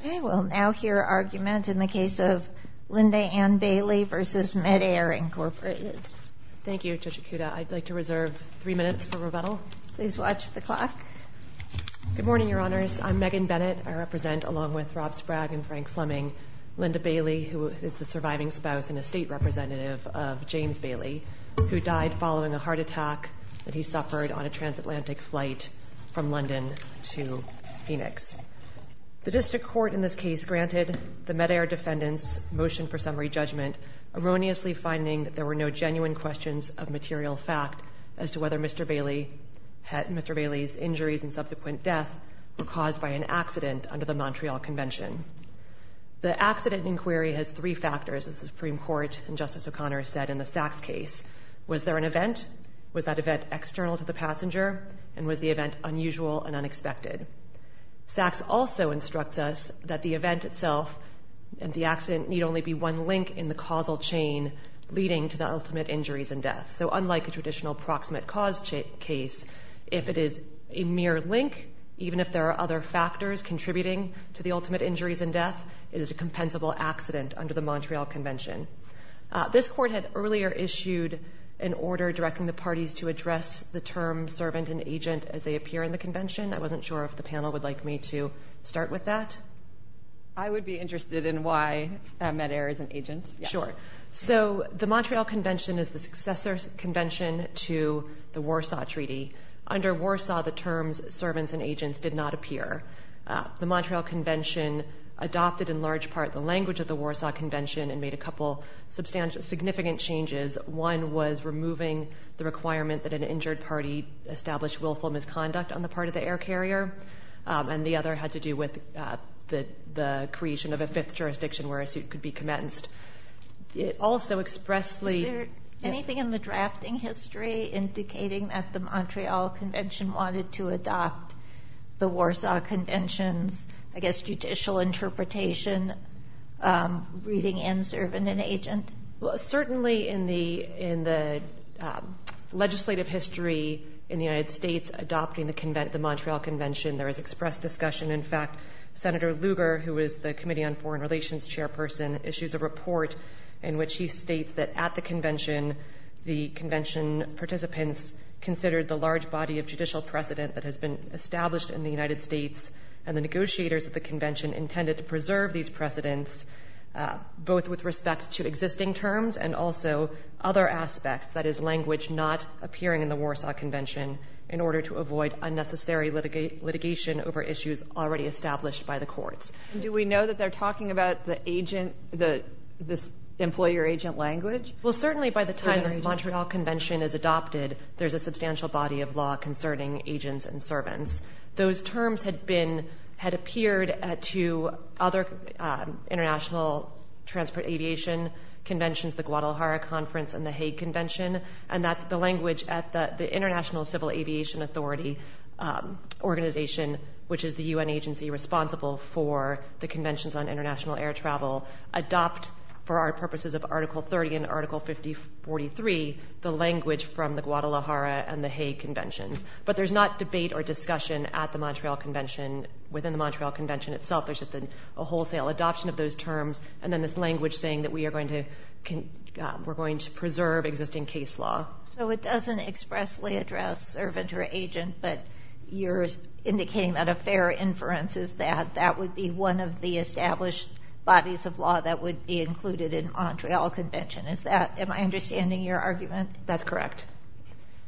Okay, we'll now hear argument in the case of Linda Ann Baillie v. Medaire, Inc. Thank you, Judge Ikuda. I'd like to reserve three minutes for rebuttal. Please watch the clock. Good morning, Your Honors. I'm Megan Bennett. I represent, along with Rob Sprague and Frank Fleming, Linda Baillie, who is the surviving spouse and estate representative of James Baillie, who died following a heart attack that he suffered on a transatlantic flight from London to Phoenix. The district court in this case granted the Medaire defendant's motion for summary judgment, erroneously finding that there were no genuine questions of material fact as to whether Mr. Baillie's injuries and subsequent death were caused by an accident under the Montreal Convention. The accident inquiry has three factors, as the Supreme Court and Justice O'Connor said in the Sachs case. Was there an event? Was that event external to the passenger? And was the event unusual and unexpected? Sachs also instructs us that the event itself and the accident need only be one link in the causal chain leading to the ultimate injuries and death. So unlike a traditional proximate cause case, if it is a mere link, even if there are other factors contributing to the ultimate injuries and death, it is a compensable accident under the Montreal Convention. This court had earlier issued an order directing the parties to address the term servant and agent as they appear in the Convention. I wasn't sure if the panel would like me to start with that. I would be interested in why Medaire is an agent. Sure. So the Montreal Convention is the successor convention to the Warsaw Treaty. Under Warsaw, the terms servants and agents did not appear. The Montreal Convention adopted in large part the language of the Warsaw Convention and made a couple significant changes. One was removing the requirement that an injured party establish willful misconduct on the part of the air carrier. And the other had to do with the creation of a fifth jurisdiction where a suit could be commenced. It also expressly... The Montreal Convention wanted to adopt the Warsaw Convention's, I guess, judicial interpretation, reading and servant and agent. Well, certainly in the legislative history in the United States adopting the Montreal Convention, there is expressed discussion. In fact, Senator Lugar, who is the Committee on Foreign Relations chairperson, the convention participants considered the large body of judicial precedent that has been established in the United States and the negotiators of the convention intended to preserve these precedents, both with respect to existing terms and also other aspects, that is, language not appearing in the Warsaw Convention in order to avoid unnecessary litigation over issues already established by the courts. Do we know that they're talking about the agent, the employer-agent language? Well, certainly by the time the Montreal Convention is adopted, there's a substantial body of law concerning agents and servants. Those terms had appeared to other international transport aviation conventions, the Guadalajara Conference and the Hague Convention, and that's the language at the International Civil Aviation Authority organization, which is the UN agency responsible for the conventions on international air travel, adopt for our purposes of Article 30 and Article 5043 the language from the Guadalajara and the Hague Conventions. But there's not debate or discussion at the Montreal Convention, within the Montreal Convention itself. There's just a wholesale adoption of those terms and then this language saying that we are going to preserve existing case law. So it doesn't expressly address servant or agent, but you're indicating that a fair inference is that that would be one of the established bodies of law that would be included in Montreal Convention. Am I understanding your argument? That's correct.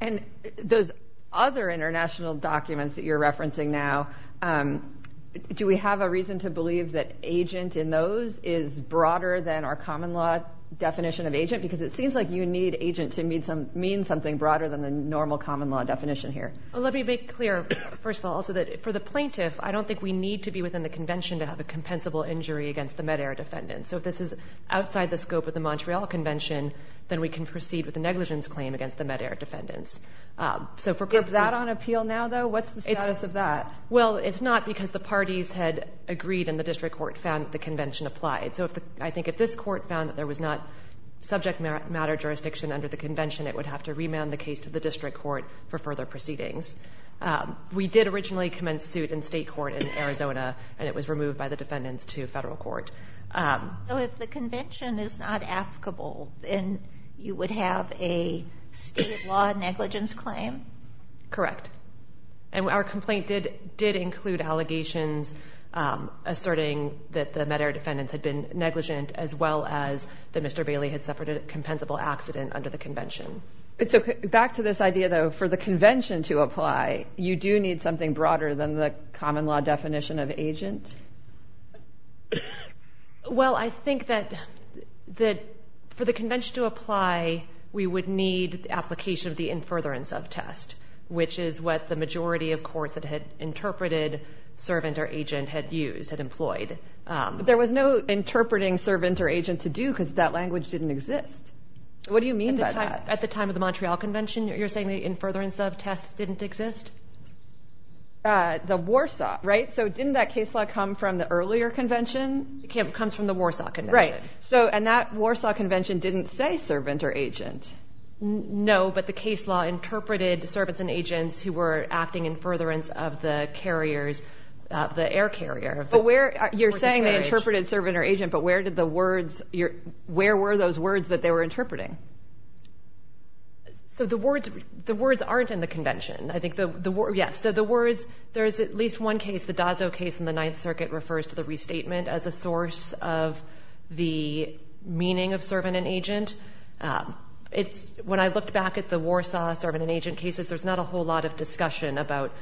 And those other international documents that you're referencing now, do we have a reason to believe that agent in those is broader than our common law definition of agent? Because it seems like you need agent to mean something broader than the normal common law definition here. Let me be clear, first of all, so that for the plaintiff, I don't think we need to be within the convention to have a compensable injury against the med-air defendant. So if this is outside the scope of the Montreal Convention, then we can proceed with the negligence claim against the med-air defendants. Is that on appeal now, though? What's the status of that? Well, it's not because the parties had agreed and the district court found that the convention applied. So I think if this court found that there was not subject matter jurisdiction under the convention, it would have to remand the case to the district court for further proceedings. We did originally commence suit in state court in Arizona, and it was removed by the defendants to federal court. So if the convention is not applicable, then you would have a state law negligence claim? Correct. And our complaint did include allegations asserting that the med-air defendants had been negligent as well as that Mr. Bailey had suffered a compensable accident under the convention. Back to this idea, though, for the convention to apply, you do need something broader than the common law definition of agent? Well, I think that for the convention to apply, we would need the application of the in furtherance of test, which is what the majority of courts that had interpreted servant or agent had used, had employed. But there was no interpreting servant or agent to do because that language didn't exist. What do you mean by that? At the time of the Montreal Convention, you're saying the in furtherance of test didn't exist? The Warsaw, right? So didn't that case law come from the earlier convention? It comes from the Warsaw Convention. Right. And that Warsaw Convention didn't say servant or agent. No, but the case law interpreted servants and agents who were acting in furtherance of the carriers, the air carrier. But you're saying they interpreted servant or agent, but where were those words that they were interpreting? So the words aren't in the convention. Yes, so the words, there is at least one case, the Dozzo case in the Ninth Circuit, refers to the restatement as a source of the meaning of servant and agent. When I looked back at the Warsaw servant and agent cases, there's not a whole lot of discussion about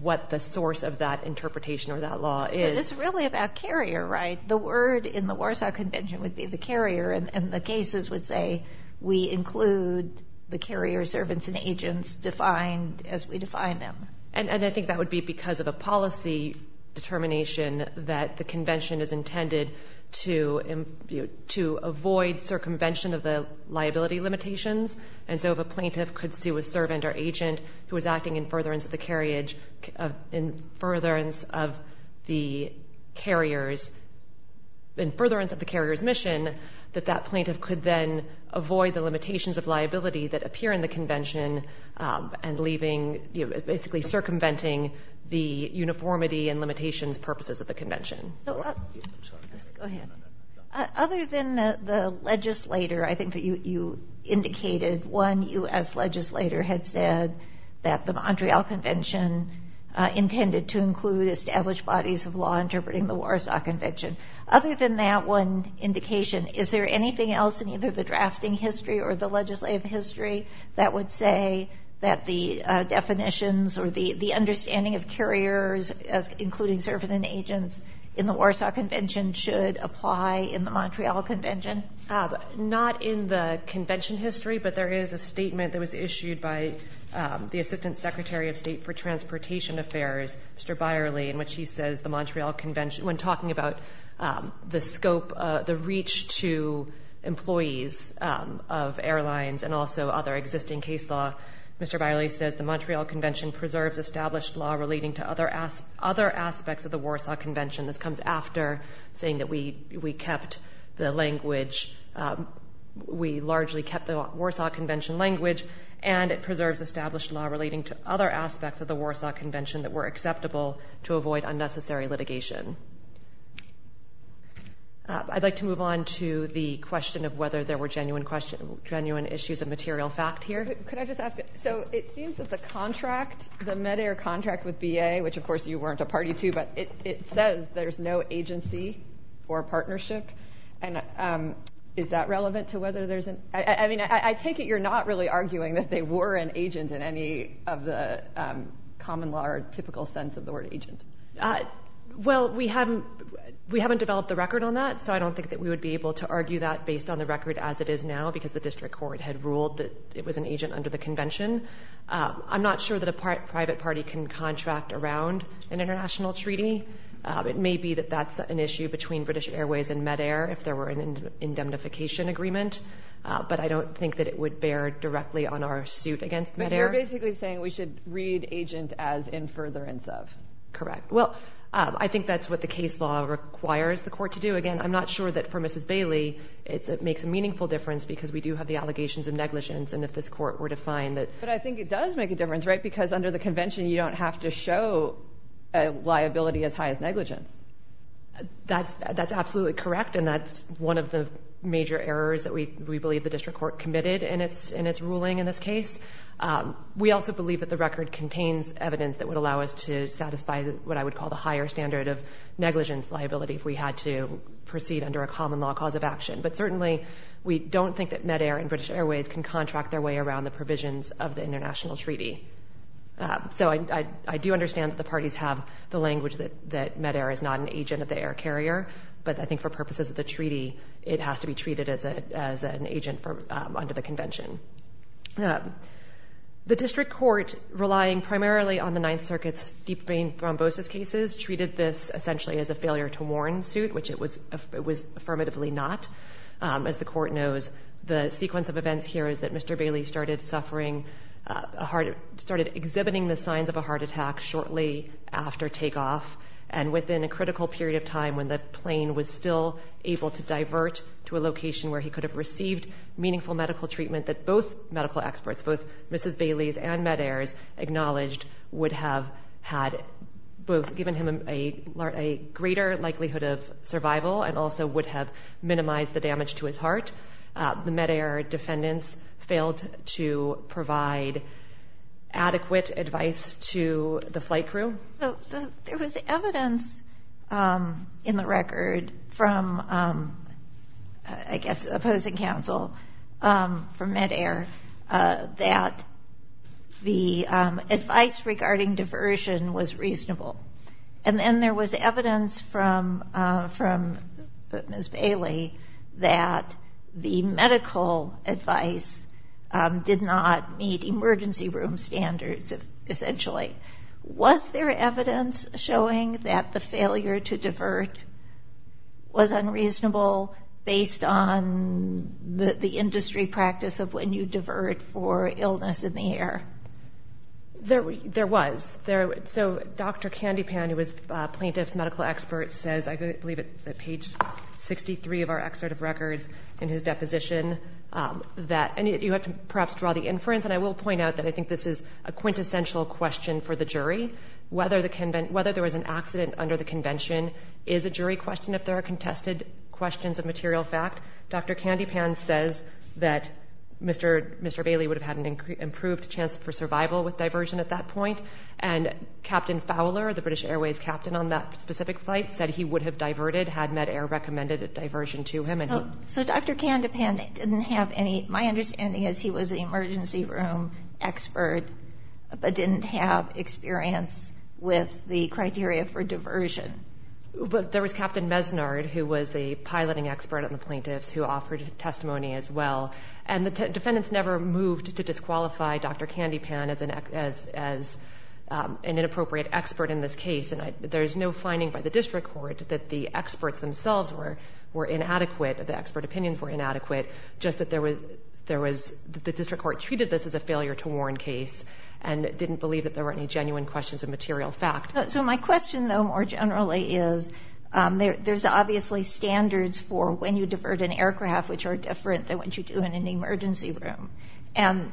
what the source of that interpretation or that law is. It's really about carrier, right? The word in the Warsaw Convention would be the carrier, and the cases would say we include the carrier, servants, and agents defined as we define them. And I think that would be because of a policy determination that the convention is intended to avoid circumvention of the liability limitations, and so if a plaintiff could sue a servant or agent who is acting in furtherance of the carrier's mission, that that plaintiff could then avoid the limitations of liability that appear in the convention and leaving, basically circumventing the uniformity and limitations purposes of the convention. Go ahead. Other than the legislator, I think that you indicated one U.S. legislator had said that the Montreal Convention intended to include established bodies of law interpreting the Warsaw Convention. Other than that one indication, is there anything else in either the drafting history or the legislative history that would say that the definitions or the understanding of carriers, including servant and agents, in the Warsaw Convention should apply in the Montreal Convention? Not in the convention history, but there is a statement that was issued by the Assistant Secretary of State for Transportation Affairs, Mr. Byerly, in which he says the Montreal Convention, when talking about the scope, the reach to employees of airlines and also other existing case law, Mr. Byerly says the Montreal Convention preserves established law relating to other aspects of the Warsaw Convention. This comes after saying that we kept the language, we largely kept the Warsaw Convention language, and it preserves established law relating to other aspects of the Warsaw Convention that were acceptable to avoid unnecessary litigation. I'd like to move on to the question of whether there were genuine issues of material fact here. Could I just ask, so it seems that the contract, the MEDAIR contract with BA, which of course you weren't a party to, but it says there's no agency or partnership. Is that relevant to whether there's an... I mean, I take it you're not really arguing that they were an agent in any of the common law or typical sense of the word agent. Well, we haven't developed a record on that, so I don't think that we would be able to argue that based on the record as it is now because the district court had ruled that it was an agent under the convention. I'm not sure that a private party can contract around an international treaty. It may be that that's an issue between British Airways and MEDAIR if there were an indemnification agreement, but I don't think that it would bear directly on our suit against MEDAIR. But you're basically saying we should read agent as in furtherance of. Correct. Well, I think that's what the case law requires the court to do. Again, I'm not sure that for Mrs. Bailey it makes a meaningful difference because we do have the allegations of negligence, and if this court were to find that... But I think it does make a difference, right, because under the convention you don't have to show a liability as high as negligence. That's absolutely correct, and that's one of the major errors that we believe the district court committed in its ruling in this case. We also believe that the record contains evidence that would allow us to satisfy what I would call the higher standard of negligence liability if we had to proceed under a common law cause of action. But certainly we don't think that MEDAIR and British Airways can contract their way around the provisions of the international treaty. So I do understand that the parties have the language that MEDAIR is not an agent of the air carrier, but I think for purposes of the treaty it has to be treated as an agent under the convention. The district court, relying primarily on the Ninth Circuit's deep vein thrombosis cases, treated this essentially as a failure to warn suit, which it was affirmatively not. As the court knows, the sequence of events here is that Mr. Bailey started suffering a heart, started exhibiting the signs of a heart attack shortly after takeoff, and within a critical period of time when the plane was still able to divert to a location where he could have received meaningful medical treatment that both medical experts, both Mrs. Bailey's and MEDAIR's, acknowledged would have had both given him a greater likelihood of survival and also would have minimized the damage to his heart. The MEDAIR defendants failed to provide adequate advice to the flight crew. So there was evidence in the record from, I guess, opposing counsel from MEDAIR that the advice regarding diversion was reasonable. And then there was evidence from Mrs. Bailey that the medical advice did not meet emergency room standards, essentially. Was there evidence showing that the failure to divert was unreasonable based on the industry practice of when you divert for illness in the air? There was. So Dr. Kandipan, who was plaintiff's medical expert, says, I believe it's at page 63 of our excerpt of records in his deposition, that you have to perhaps draw the inference. And I will point out that I think this is a quintessential question for the jury. Whether there was an accident under the convention is a jury question if there are contested questions of material fact. Dr. Kandipan says that Mr. Bailey would have had an improved chance for survival with diversion at that point. And Captain Fowler, the British Airways captain on that specific flight, said he would have diverted had MEDAIR recommended a diversion to him. So Dr. Kandipan didn't have any – my understanding is he was an emergency room expert but didn't have experience with the criteria for diversion. But there was Captain Mesnard, who was the piloting expert on the plaintiffs, who offered testimony as well. And the defendants never moved to disqualify Dr. Kandipan as an inappropriate expert in this case. And there's no finding by the district court that the experts themselves were inadequate or the expert opinions were inadequate, just that there was – the district court treated this as a failure-to-warn case and didn't believe that there were any genuine questions of material fact. So my question, though, more generally, is there's obviously standards for when you divert an aircraft which are different than what you do in an emergency room. And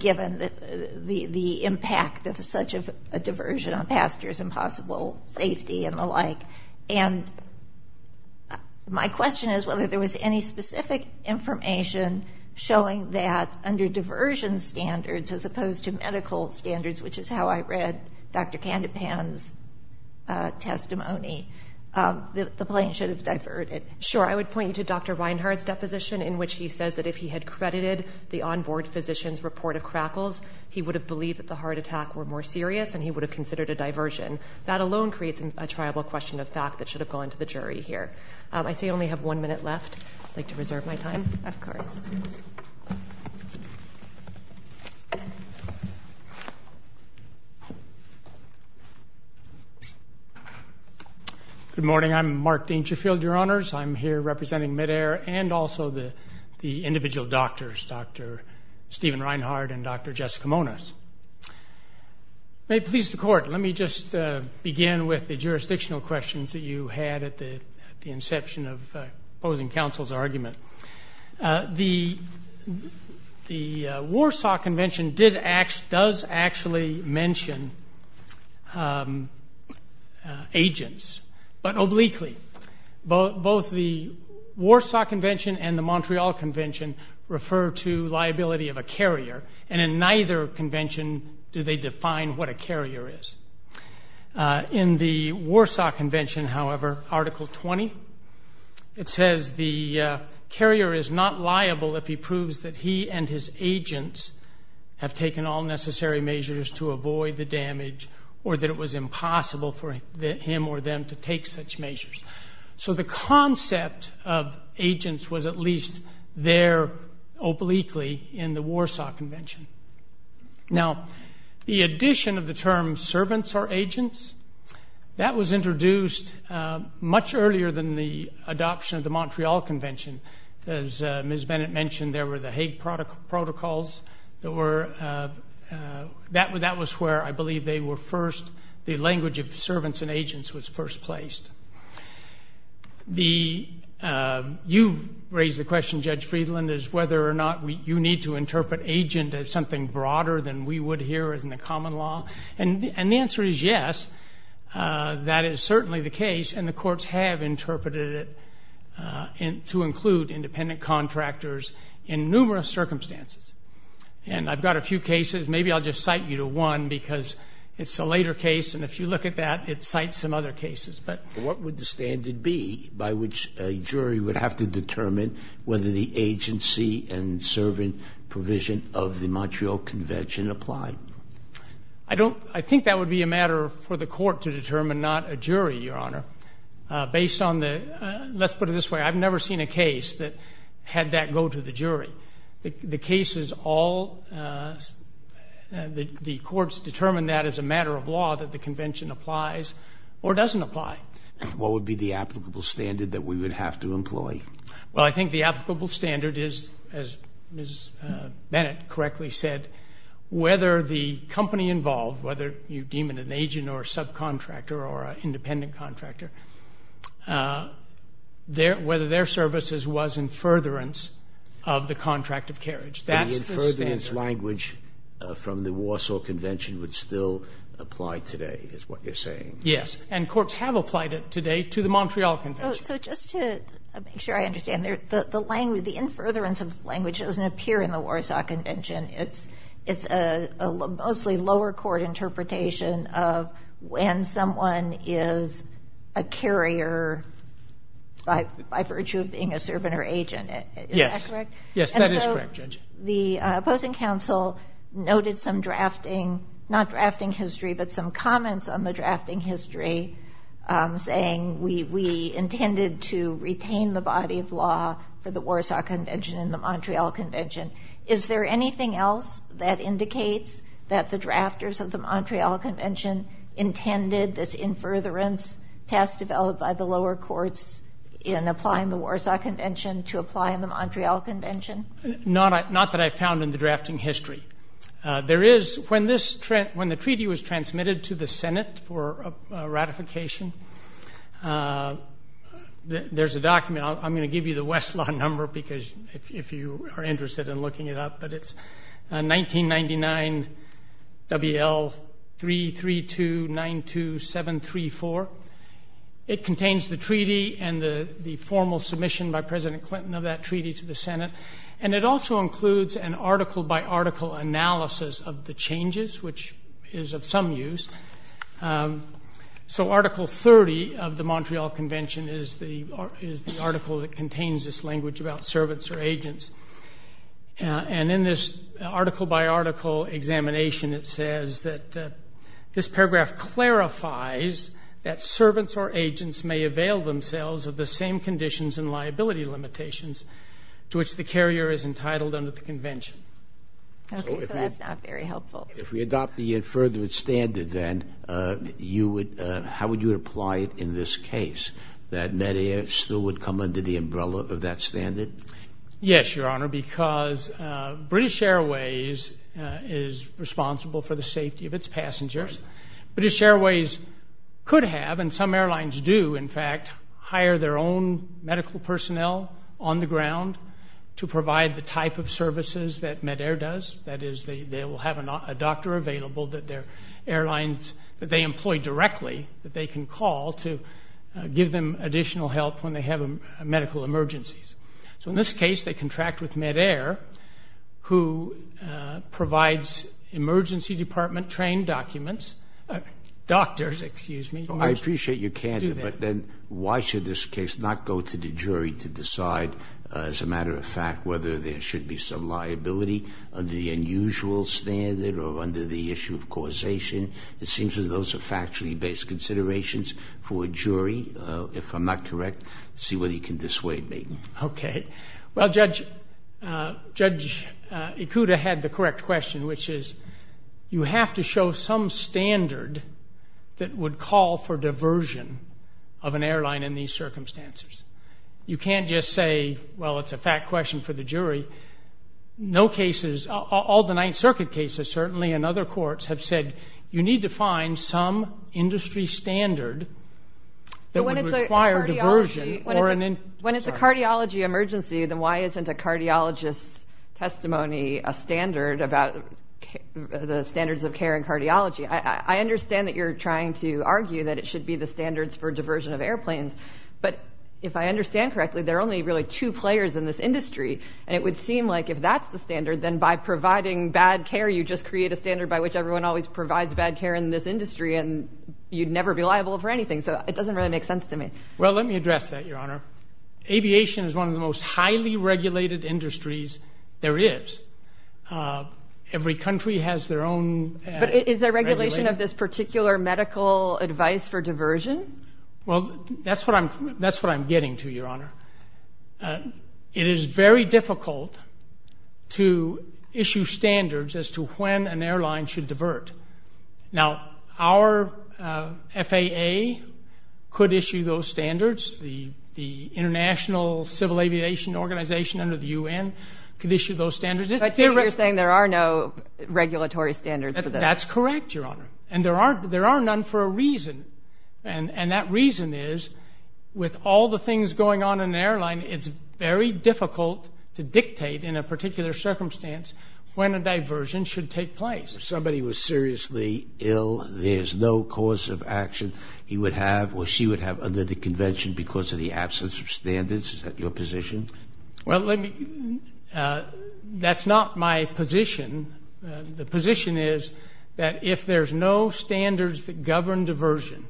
given the impact of such a diversion on passengers and possible safety and the like, and my question is whether there was any specific information showing that under diversion standards as opposed to medical standards, which is how I read Dr. Kandipan's testimony, the plane should have diverted. Sure. I would point you to Dr. Reinhart's deposition in which he says that if he had credited the onboard physician's report of crackles, he would have believed that the heart attack were more serious and he would have considered a diversion. That alone creates a triable question of fact that should have gone to the jury here. I see I only have one minute left. I'd like to reserve my time. Of course. Thank you. Good morning. I'm Mark Dangerfield, Your Honors. I'm here representing MEDAIR and also the individual doctors, Dr. Stephen Reinhart and Dr. Jessica Moniz. May it please the Court, let me just begin with the jurisdictional questions that you had at the inception of opposing counsel's argument. The Warsaw Convention does actually mention agents, but obliquely. Both the Warsaw Convention and the Montreal Convention refer to liability of a carrier, and in neither convention do they define what a carrier is. In the Warsaw Convention, however, Article 20, it says the carrier is not liable if he proves that he and his agents have taken all necessary measures to avoid the damage or that it was impossible for him or them to take such measures. So the concept of agents was at least there obliquely in the Warsaw Convention. Now, the addition of the term servants or agents, that was introduced much earlier than the adoption of the Montreal Convention. As Ms. Bennett mentioned, there were the Hague Protocols. That was where I believe they were first, the language of servants and agents was first placed. You raised the question, Judge Friedland, is whether or not you need to interpret agent as something broader than we would here as in the common law. And the answer is yes, that is certainly the case, and the courts have interpreted it to include independent contractors in numerous circumstances. And I've got a few cases. Maybe I'll just cite you to one because it's a later case, and if you look at that, it cites some other cases. But what would the standard be by which a jury would have to determine whether the agency and servant provision of the Montreal Convention applied? I don't, I think that would be a matter for the court to determine, not a jury, Your Honor. Based on the, let's put it this way. I've never seen a case that had that go to the jury. The case is all, the courts determine that as a matter of law that the convention applies or doesn't apply. What would be the applicable standard that we would have to employ? Well, I think the applicable standard is, as Ms. Bennett correctly said, whether the company involved, whether you deem it an agent or a subcontractor or an independent contractor, whether their services was in furtherance of the contract of carriage. That's the standard. from the Warsaw Convention would still apply today is what you're saying. Yes. And courts have applied it today to the Montreal Convention. So just to make sure I understand, the language, the in furtherance of the language doesn't appear in the Warsaw Convention. It's a mostly lower court interpretation of when someone is a carrier by virtue of being a servant or agent. Yes. Yes, that is correct, Judge. The opposing counsel noted some drafting, not drafting history, but some comments on the drafting history saying we intended to retain the body of law for the Warsaw Convention and the Montreal Convention. Is there anything else that indicates that the drafters of the Montreal Convention intended this in furtherance test developed by the lower courts in applying the Warsaw Convention to apply in the Montreal Convention? Not that I found in the drafting history. There is, when the treaty was transmitted to the Senate for ratification, there's a document. I'm going to give you the Westlaw number because if you are interested in looking it up, but it's 1999 WL33292734. It contains the treaty and the formal submission by President Clinton of that treaty to the Senate, and it also includes an article-by-article analysis of the changes, which is of some use. So Article 30 of the Montreal Convention is the article that contains this language about servants or agents. And in this article-by-article examination, it says that this paragraph clarifies that servants or agents may avail themselves of the same conditions and liability limitations to which the carrier is entitled under the convention. Okay. So that's not very helpful. If we adopt the inferred standard, then you would – how would you apply it in this case, that Medea still would come under the umbrella of that standard? Yes, Your Honor, because British Airways is responsible for the safety of its passengers. British Airways could have, and some airlines do, in fact, hire their own medical personnel on the ground to provide the type of services that MEDAIR does. That is, they will have a doctor available that their airlines – that they employ directly that they can call to give them additional help when they have medical emergencies. So in this case, they contract with MEDAIR, who provides emergency department-trained documents – doctors, excuse me. So I appreciate your candor, but then why should this case not go to the jury to decide, as a matter of fact, whether there should be some liability under the unusual standard or under the issue of causation? It seems as though those are factually based considerations for a jury. If I'm not correct, see whether you can dissuade me. Okay. Well, Judge Ikuda had the correct question, which is you have to show some standard that would call for diversion of an airline in these circumstances. You can't just say, well, it's a fact question for the jury. No cases – all the Ninth Circuit cases, certainly, and other courts have said, you need to find some industry standard that would require diversion or an – When it's a cardiology emergency, then why isn't a cardiologist's testimony a standard about the standards of care in cardiology? I understand that you're trying to argue that it should be the standards for diversion of airplanes, but if I understand correctly, there are only really two players in this industry, and it would seem like if that's the standard, then by providing bad care, you just create a standard by which everyone always provides bad care in this industry and you'd never be liable for anything. So it doesn't really make sense to me. Well, let me address that, Your Honor. Aviation is one of the most highly regulated industries there is. Every country has their own regulation. But is there regulation of this particular medical advice for diversion? Well, that's what I'm getting to, Your Honor. It is very difficult to issue standards as to when an airline should divert. Now, our FAA could issue those standards. The International Civil Aviation Organization under the U.N. could issue those standards. So you're saying there are no regulatory standards for this? That's correct, Your Honor. And there are none for a reason, and that reason is with all the things going on in an airline, it's very difficult to dictate in a particular circumstance when a diversion should take place. If somebody was seriously ill, there's no cause of action he would have or she would have under the convention because of the absence of standards? Is that your position? Well, that's not my position. The position is that if there's no standards that govern diversion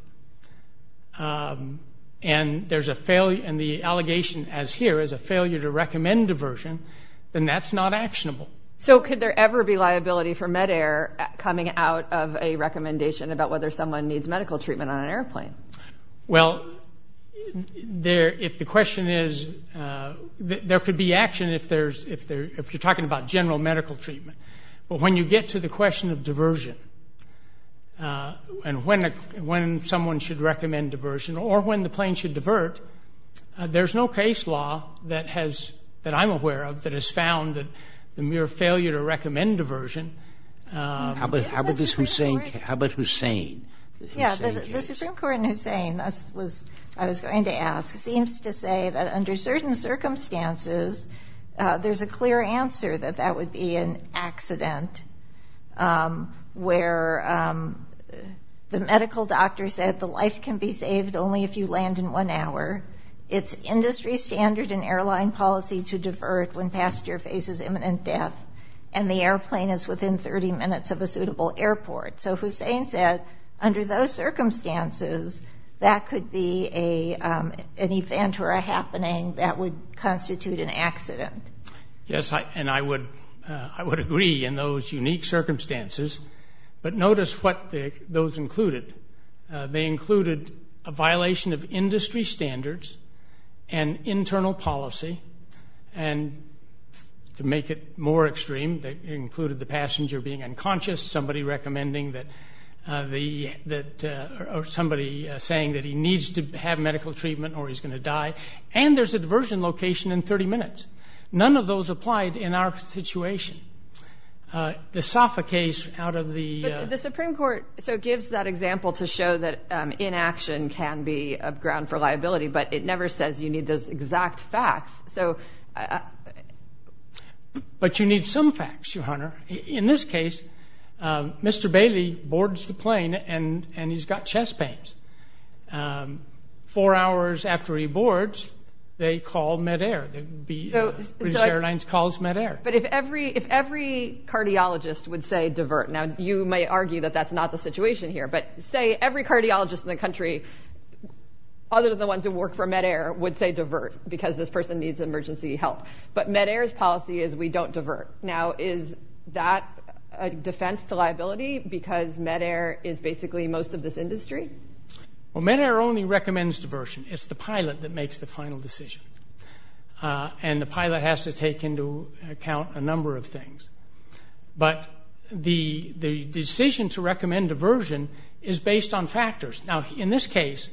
and the allegation as here is a failure to recommend diversion, then that's not actionable. So could there ever be liability for MEDAIR coming out of a recommendation about whether someone needs medical treatment on an airplane? Well, if the question is, there could be action if you're talking about general medical treatment. But when you get to the question of diversion and when someone should recommend diversion or when the plane should divert, there's no case law that I'm aware of that has found the mere failure to recommend diversion. How about Hussein? Yeah, the Supreme Court in Hussein, I was going to ask, seems to say that under certain circumstances there's a clear answer that that would be an accident where the medical doctor said the life can be saved only if you land in one hour. It's industry standard in airline policy to divert when passenger faces imminent death and the airplane is within 30 minutes of a suitable airport. So Hussein said under those circumstances that could be an event or a happening that would constitute an accident. Yes, and I would agree in those unique circumstances. But notice what those included. They included a violation of industry standards and internal policy. And to make it more extreme, they included the passenger being unconscious, somebody recommending that the or somebody saying that he needs to have medical treatment or he's going to die. And there's a diversion location in 30 minutes. None of those applied in our situation. The Safa case out of the- But the Supreme Court gives that example to show that inaction can be a ground for liability, but it never says you need those exact facts. But you need some facts, your Honor. In this case, Mr. Bailey boards the plane and he's got chest pains. Four hours after he boards, they call Medair. The airlines calls Medair. But if every cardiologist would say divert, now you may argue that that's not the situation here, but say every cardiologist in the country other than the ones who work for Medair would say divert because this person needs emergency help. But Medair's policy is we don't divert. Now, is that a defense to liability because Medair is basically most of this industry? Well, Medair only recommends diversion. It's the pilot that makes the final decision. And the pilot has to take into account a number of things. But the decision to recommend diversion is based on factors. Now, in this case,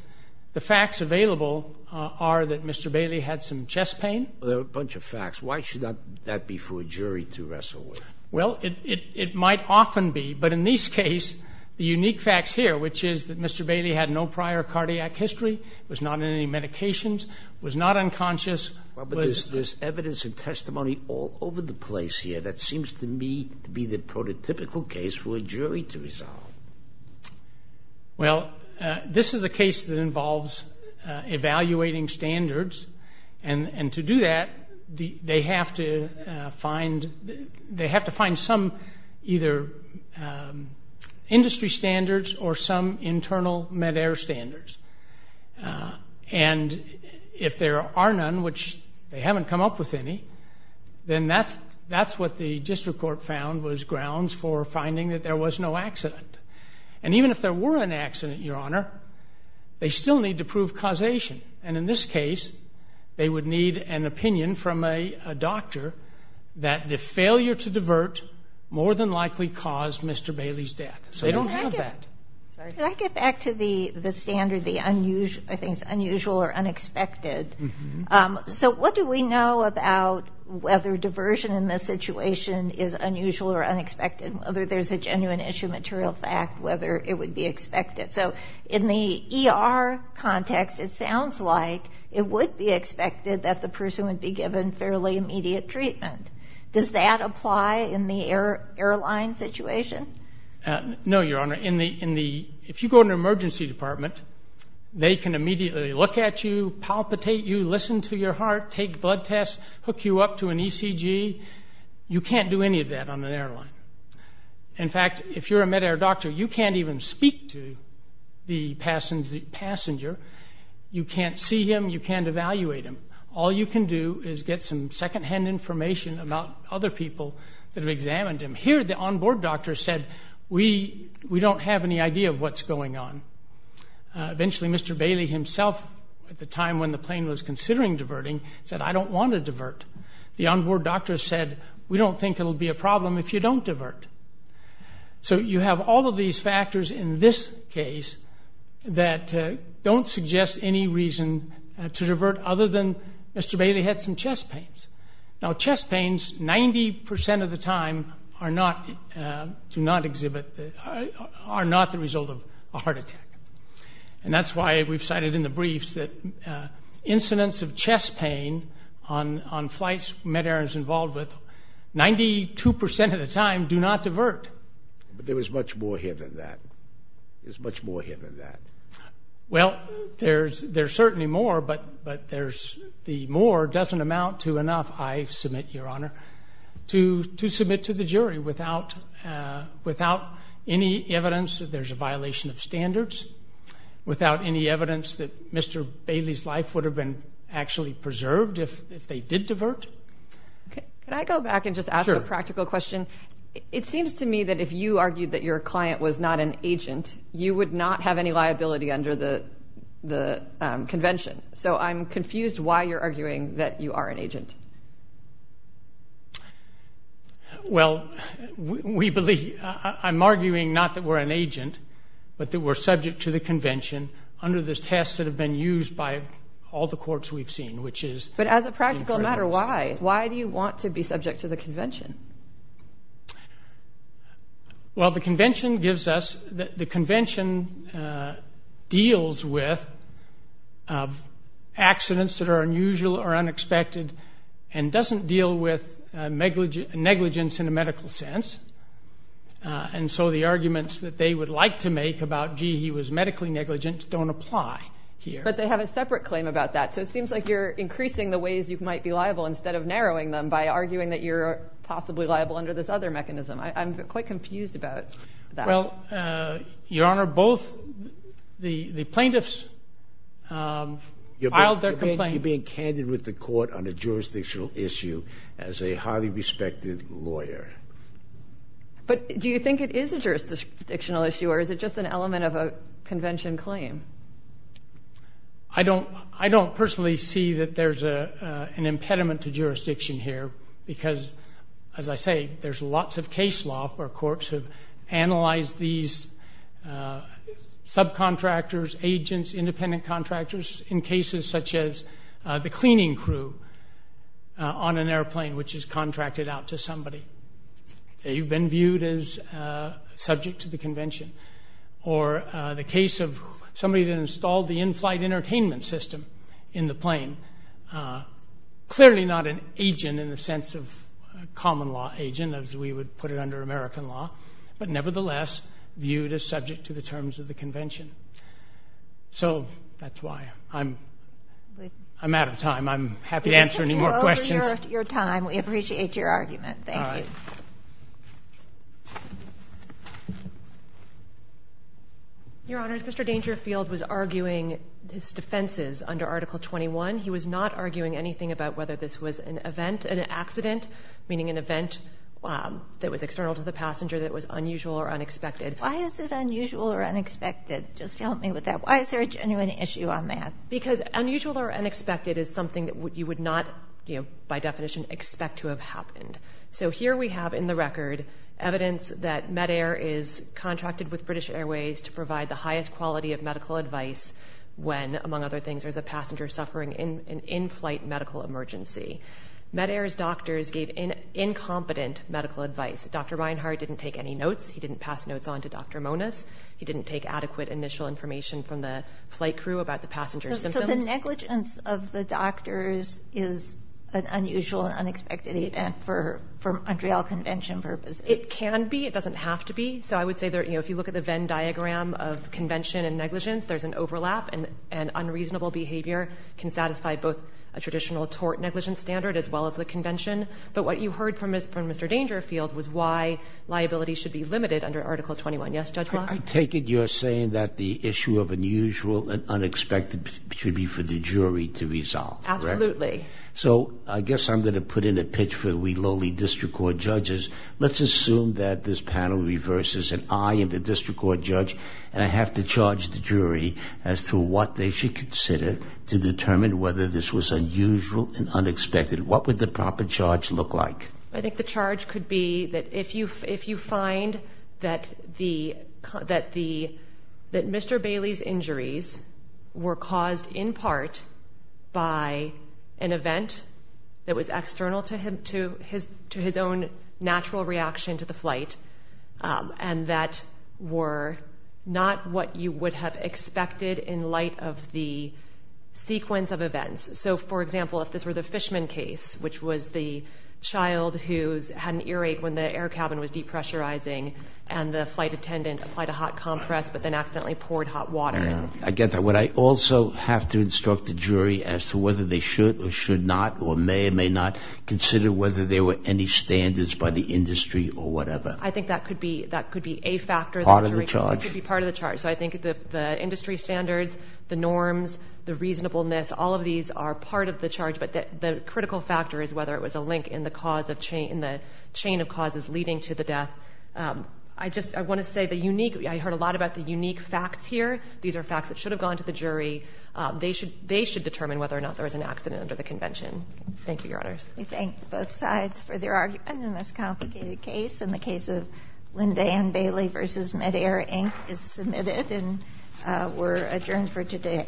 the facts available are that Mr. Bailey had some chest pain. A bunch of facts. Why should that be for a jury to wrestle with? Well, it might often be. But in this case, the unique facts here, which is that Mr. Bailey had no prior cardiac history, was not on any medications, was not unconscious. But there's evidence and testimony all over the place here that seems to me to be the prototypical case for a jury to resolve. Well, this is a case that involves evaluating standards. And to do that, they have to find some either industry standards or some internal Medair standards. And if there are none, which they haven't come up with any, then that's what the district court found was grounds for finding that there was no accident. And even if there were an accident, Your Honor, they still need to prove causation. And in this case, they would need an opinion from a doctor that the failure to divert more than likely caused Mr. Bailey's death. So they don't have that. Can I get back to the standard, the unusual or unexpected? So what do we know about whether diversion in this situation is unusual or unexpected, whether there's a genuine issue, material fact, whether it would be expected? So in the ER context, it sounds like it would be expected that the person would be given fairly immediate treatment. Does that apply in the airline situation? No, Your Honor. If you go to an emergency department, they can immediately look at you, palpitate you, listen to your heart, take blood tests, hook you up to an ECG. You can't do any of that on an airline. In fact, if you're a midair doctor, you can't even speak to the passenger. You can't see him. You can't evaluate him. All you can do is get some secondhand information about other people that have examined him. Here, the onboard doctor said, we don't have any idea of what's going on. Eventually, Mr. Bailey himself, at the time when the plane was considering diverting, said, I don't want to divert. The onboard doctor said, we don't think it will be a problem. If you don't divert. So you have all of these factors in this case that don't suggest any reason to divert other than Mr. Bailey had some chest pains. Now, chest pains, 90% of the time, are not the result of a heart attack. And that's why we've cited in the briefs that incidents of chest pain on flights midair is involved with, 92% of the time, do not divert. But there is much more here than that. There's much more here than that. Well, there's certainly more, but the more doesn't amount to enough, I submit, Your Honor, to submit to the jury. Without any evidence that there's a violation of standards. Without any evidence that Mr. Bailey's life would have been actually preserved if they did divert. Can I go back and just ask a practical question? It seems to me that if you argued that your client was not an agent, you would not have any liability under the convention. So I'm confused why you're arguing that you are an agent. Well, I'm arguing not that we're an agent, but that we're subject to the convention under the tests that have been used by all the courts we've seen. But as a practical matter, why? Why do you want to be subject to the convention? Well, the convention gives us, the convention deals with accidents that are unusual or unexpected and doesn't deal with negligence in a medical sense. And so the arguments that they would like to make about, gee, he was medically negligent, don't apply here. But they have a separate claim about that. So it seems like you're increasing the ways you might be liable instead of narrowing them by arguing that you're possibly liable under this other mechanism. I'm quite confused about that. Well, Your Honor, both the plaintiffs filed their complaint. You're being candid with the court on a jurisdictional issue as a highly respected lawyer. But do you think it is a jurisdictional issue or is it just an element of a convention claim? I don't personally see that there's an impediment to jurisdiction here because, as I say, there's lots of case law where courts have analyzed these subcontractors, agents, independent contractors, in cases such as the cleaning crew on an airplane which is contracted out to somebody. You've been viewed as subject to the convention. Or the case of somebody that installed the in-flight entertainment system in the plane, clearly not an agent in the sense of a common law agent, as we would put it under American law, but nevertheless viewed as subject to the terms of the convention. So that's why I'm out of time. I'm happy to answer any more questions. We appreciate your argument. Thank you. Your Honor, Mr. Dangerfield was arguing his defenses under Article 21. He was not arguing anything about whether this was an event, an accident, meaning an event that was external to the passenger that was unusual or unexpected. Why is it unusual or unexpected? Just help me with that. Why is there a genuine issue on that? Because unusual or unexpected is something that you would not, by definition, expect to have happened. So here we have in the record evidence that MEDAIR is contracted with British Airways to provide the highest quality of medical advice when, among other things, there's a passenger suffering an in-flight medical emergency. MEDAIR's doctors gave incompetent medical advice. Dr. Reinhart didn't take any notes. He didn't pass notes on to Dr. Monis. He didn't take adequate initial information from the flight crew about the passenger's symptoms. So the negligence of the doctors is an unusual and unexpected event for Montreal Convention purposes. It can be. It doesn't have to be. So I would say, you know, if you look at the Venn diagram of convention and negligence, there's an overlap. And unreasonable behavior can satisfy both a traditional tort negligence standard as well as the convention. But what you heard from Mr. Dangerfield was why liability should be limited under Article 21. Yes, Judge Block? I take it you're saying that the issue of unusual and unexpected should be for the jury to resolve. Absolutely. So I guess I'm going to put in a pitch for we lowly district court judges. Let's assume that this panel reverses and I am the district court judge and I have to charge the jury as to what they should consider to determine whether this was unusual and unexpected. What would the proper charge look like? I think the charge could be that if you find that Mr. Bailey's injuries were caused in part by an event that was external to his own natural reaction to the flight and that were not what you would have expected in light of the sequence of events. So for example, if this were the Fishman case, which was the child who had an earache when the air cabin was depressurizing and the flight attendant applied a hot compress but then accidentally poured hot water. I get that. Would I also have to instruct the jury as to whether they should or should not or may or may not consider whether there were any standards by the industry or whatever? I think that could be a factor. Part of the charge? It could be part of the charge. So I think the industry standards, the norms, the reasonableness, all of these are part of the charge, but the critical factor is whether it was a link in the cause of chain of causes leading to the death. I just want to say the unique, I heard a lot about the unique facts here. These are facts that should have gone to the jury. They should determine whether or not there was an accident under the convention. Thank you, Your Honors. We thank both sides for their argument in this complicated case. And the case of Linda Ann Bailey v. Medair, Inc. is submitted and we're adjourned for today.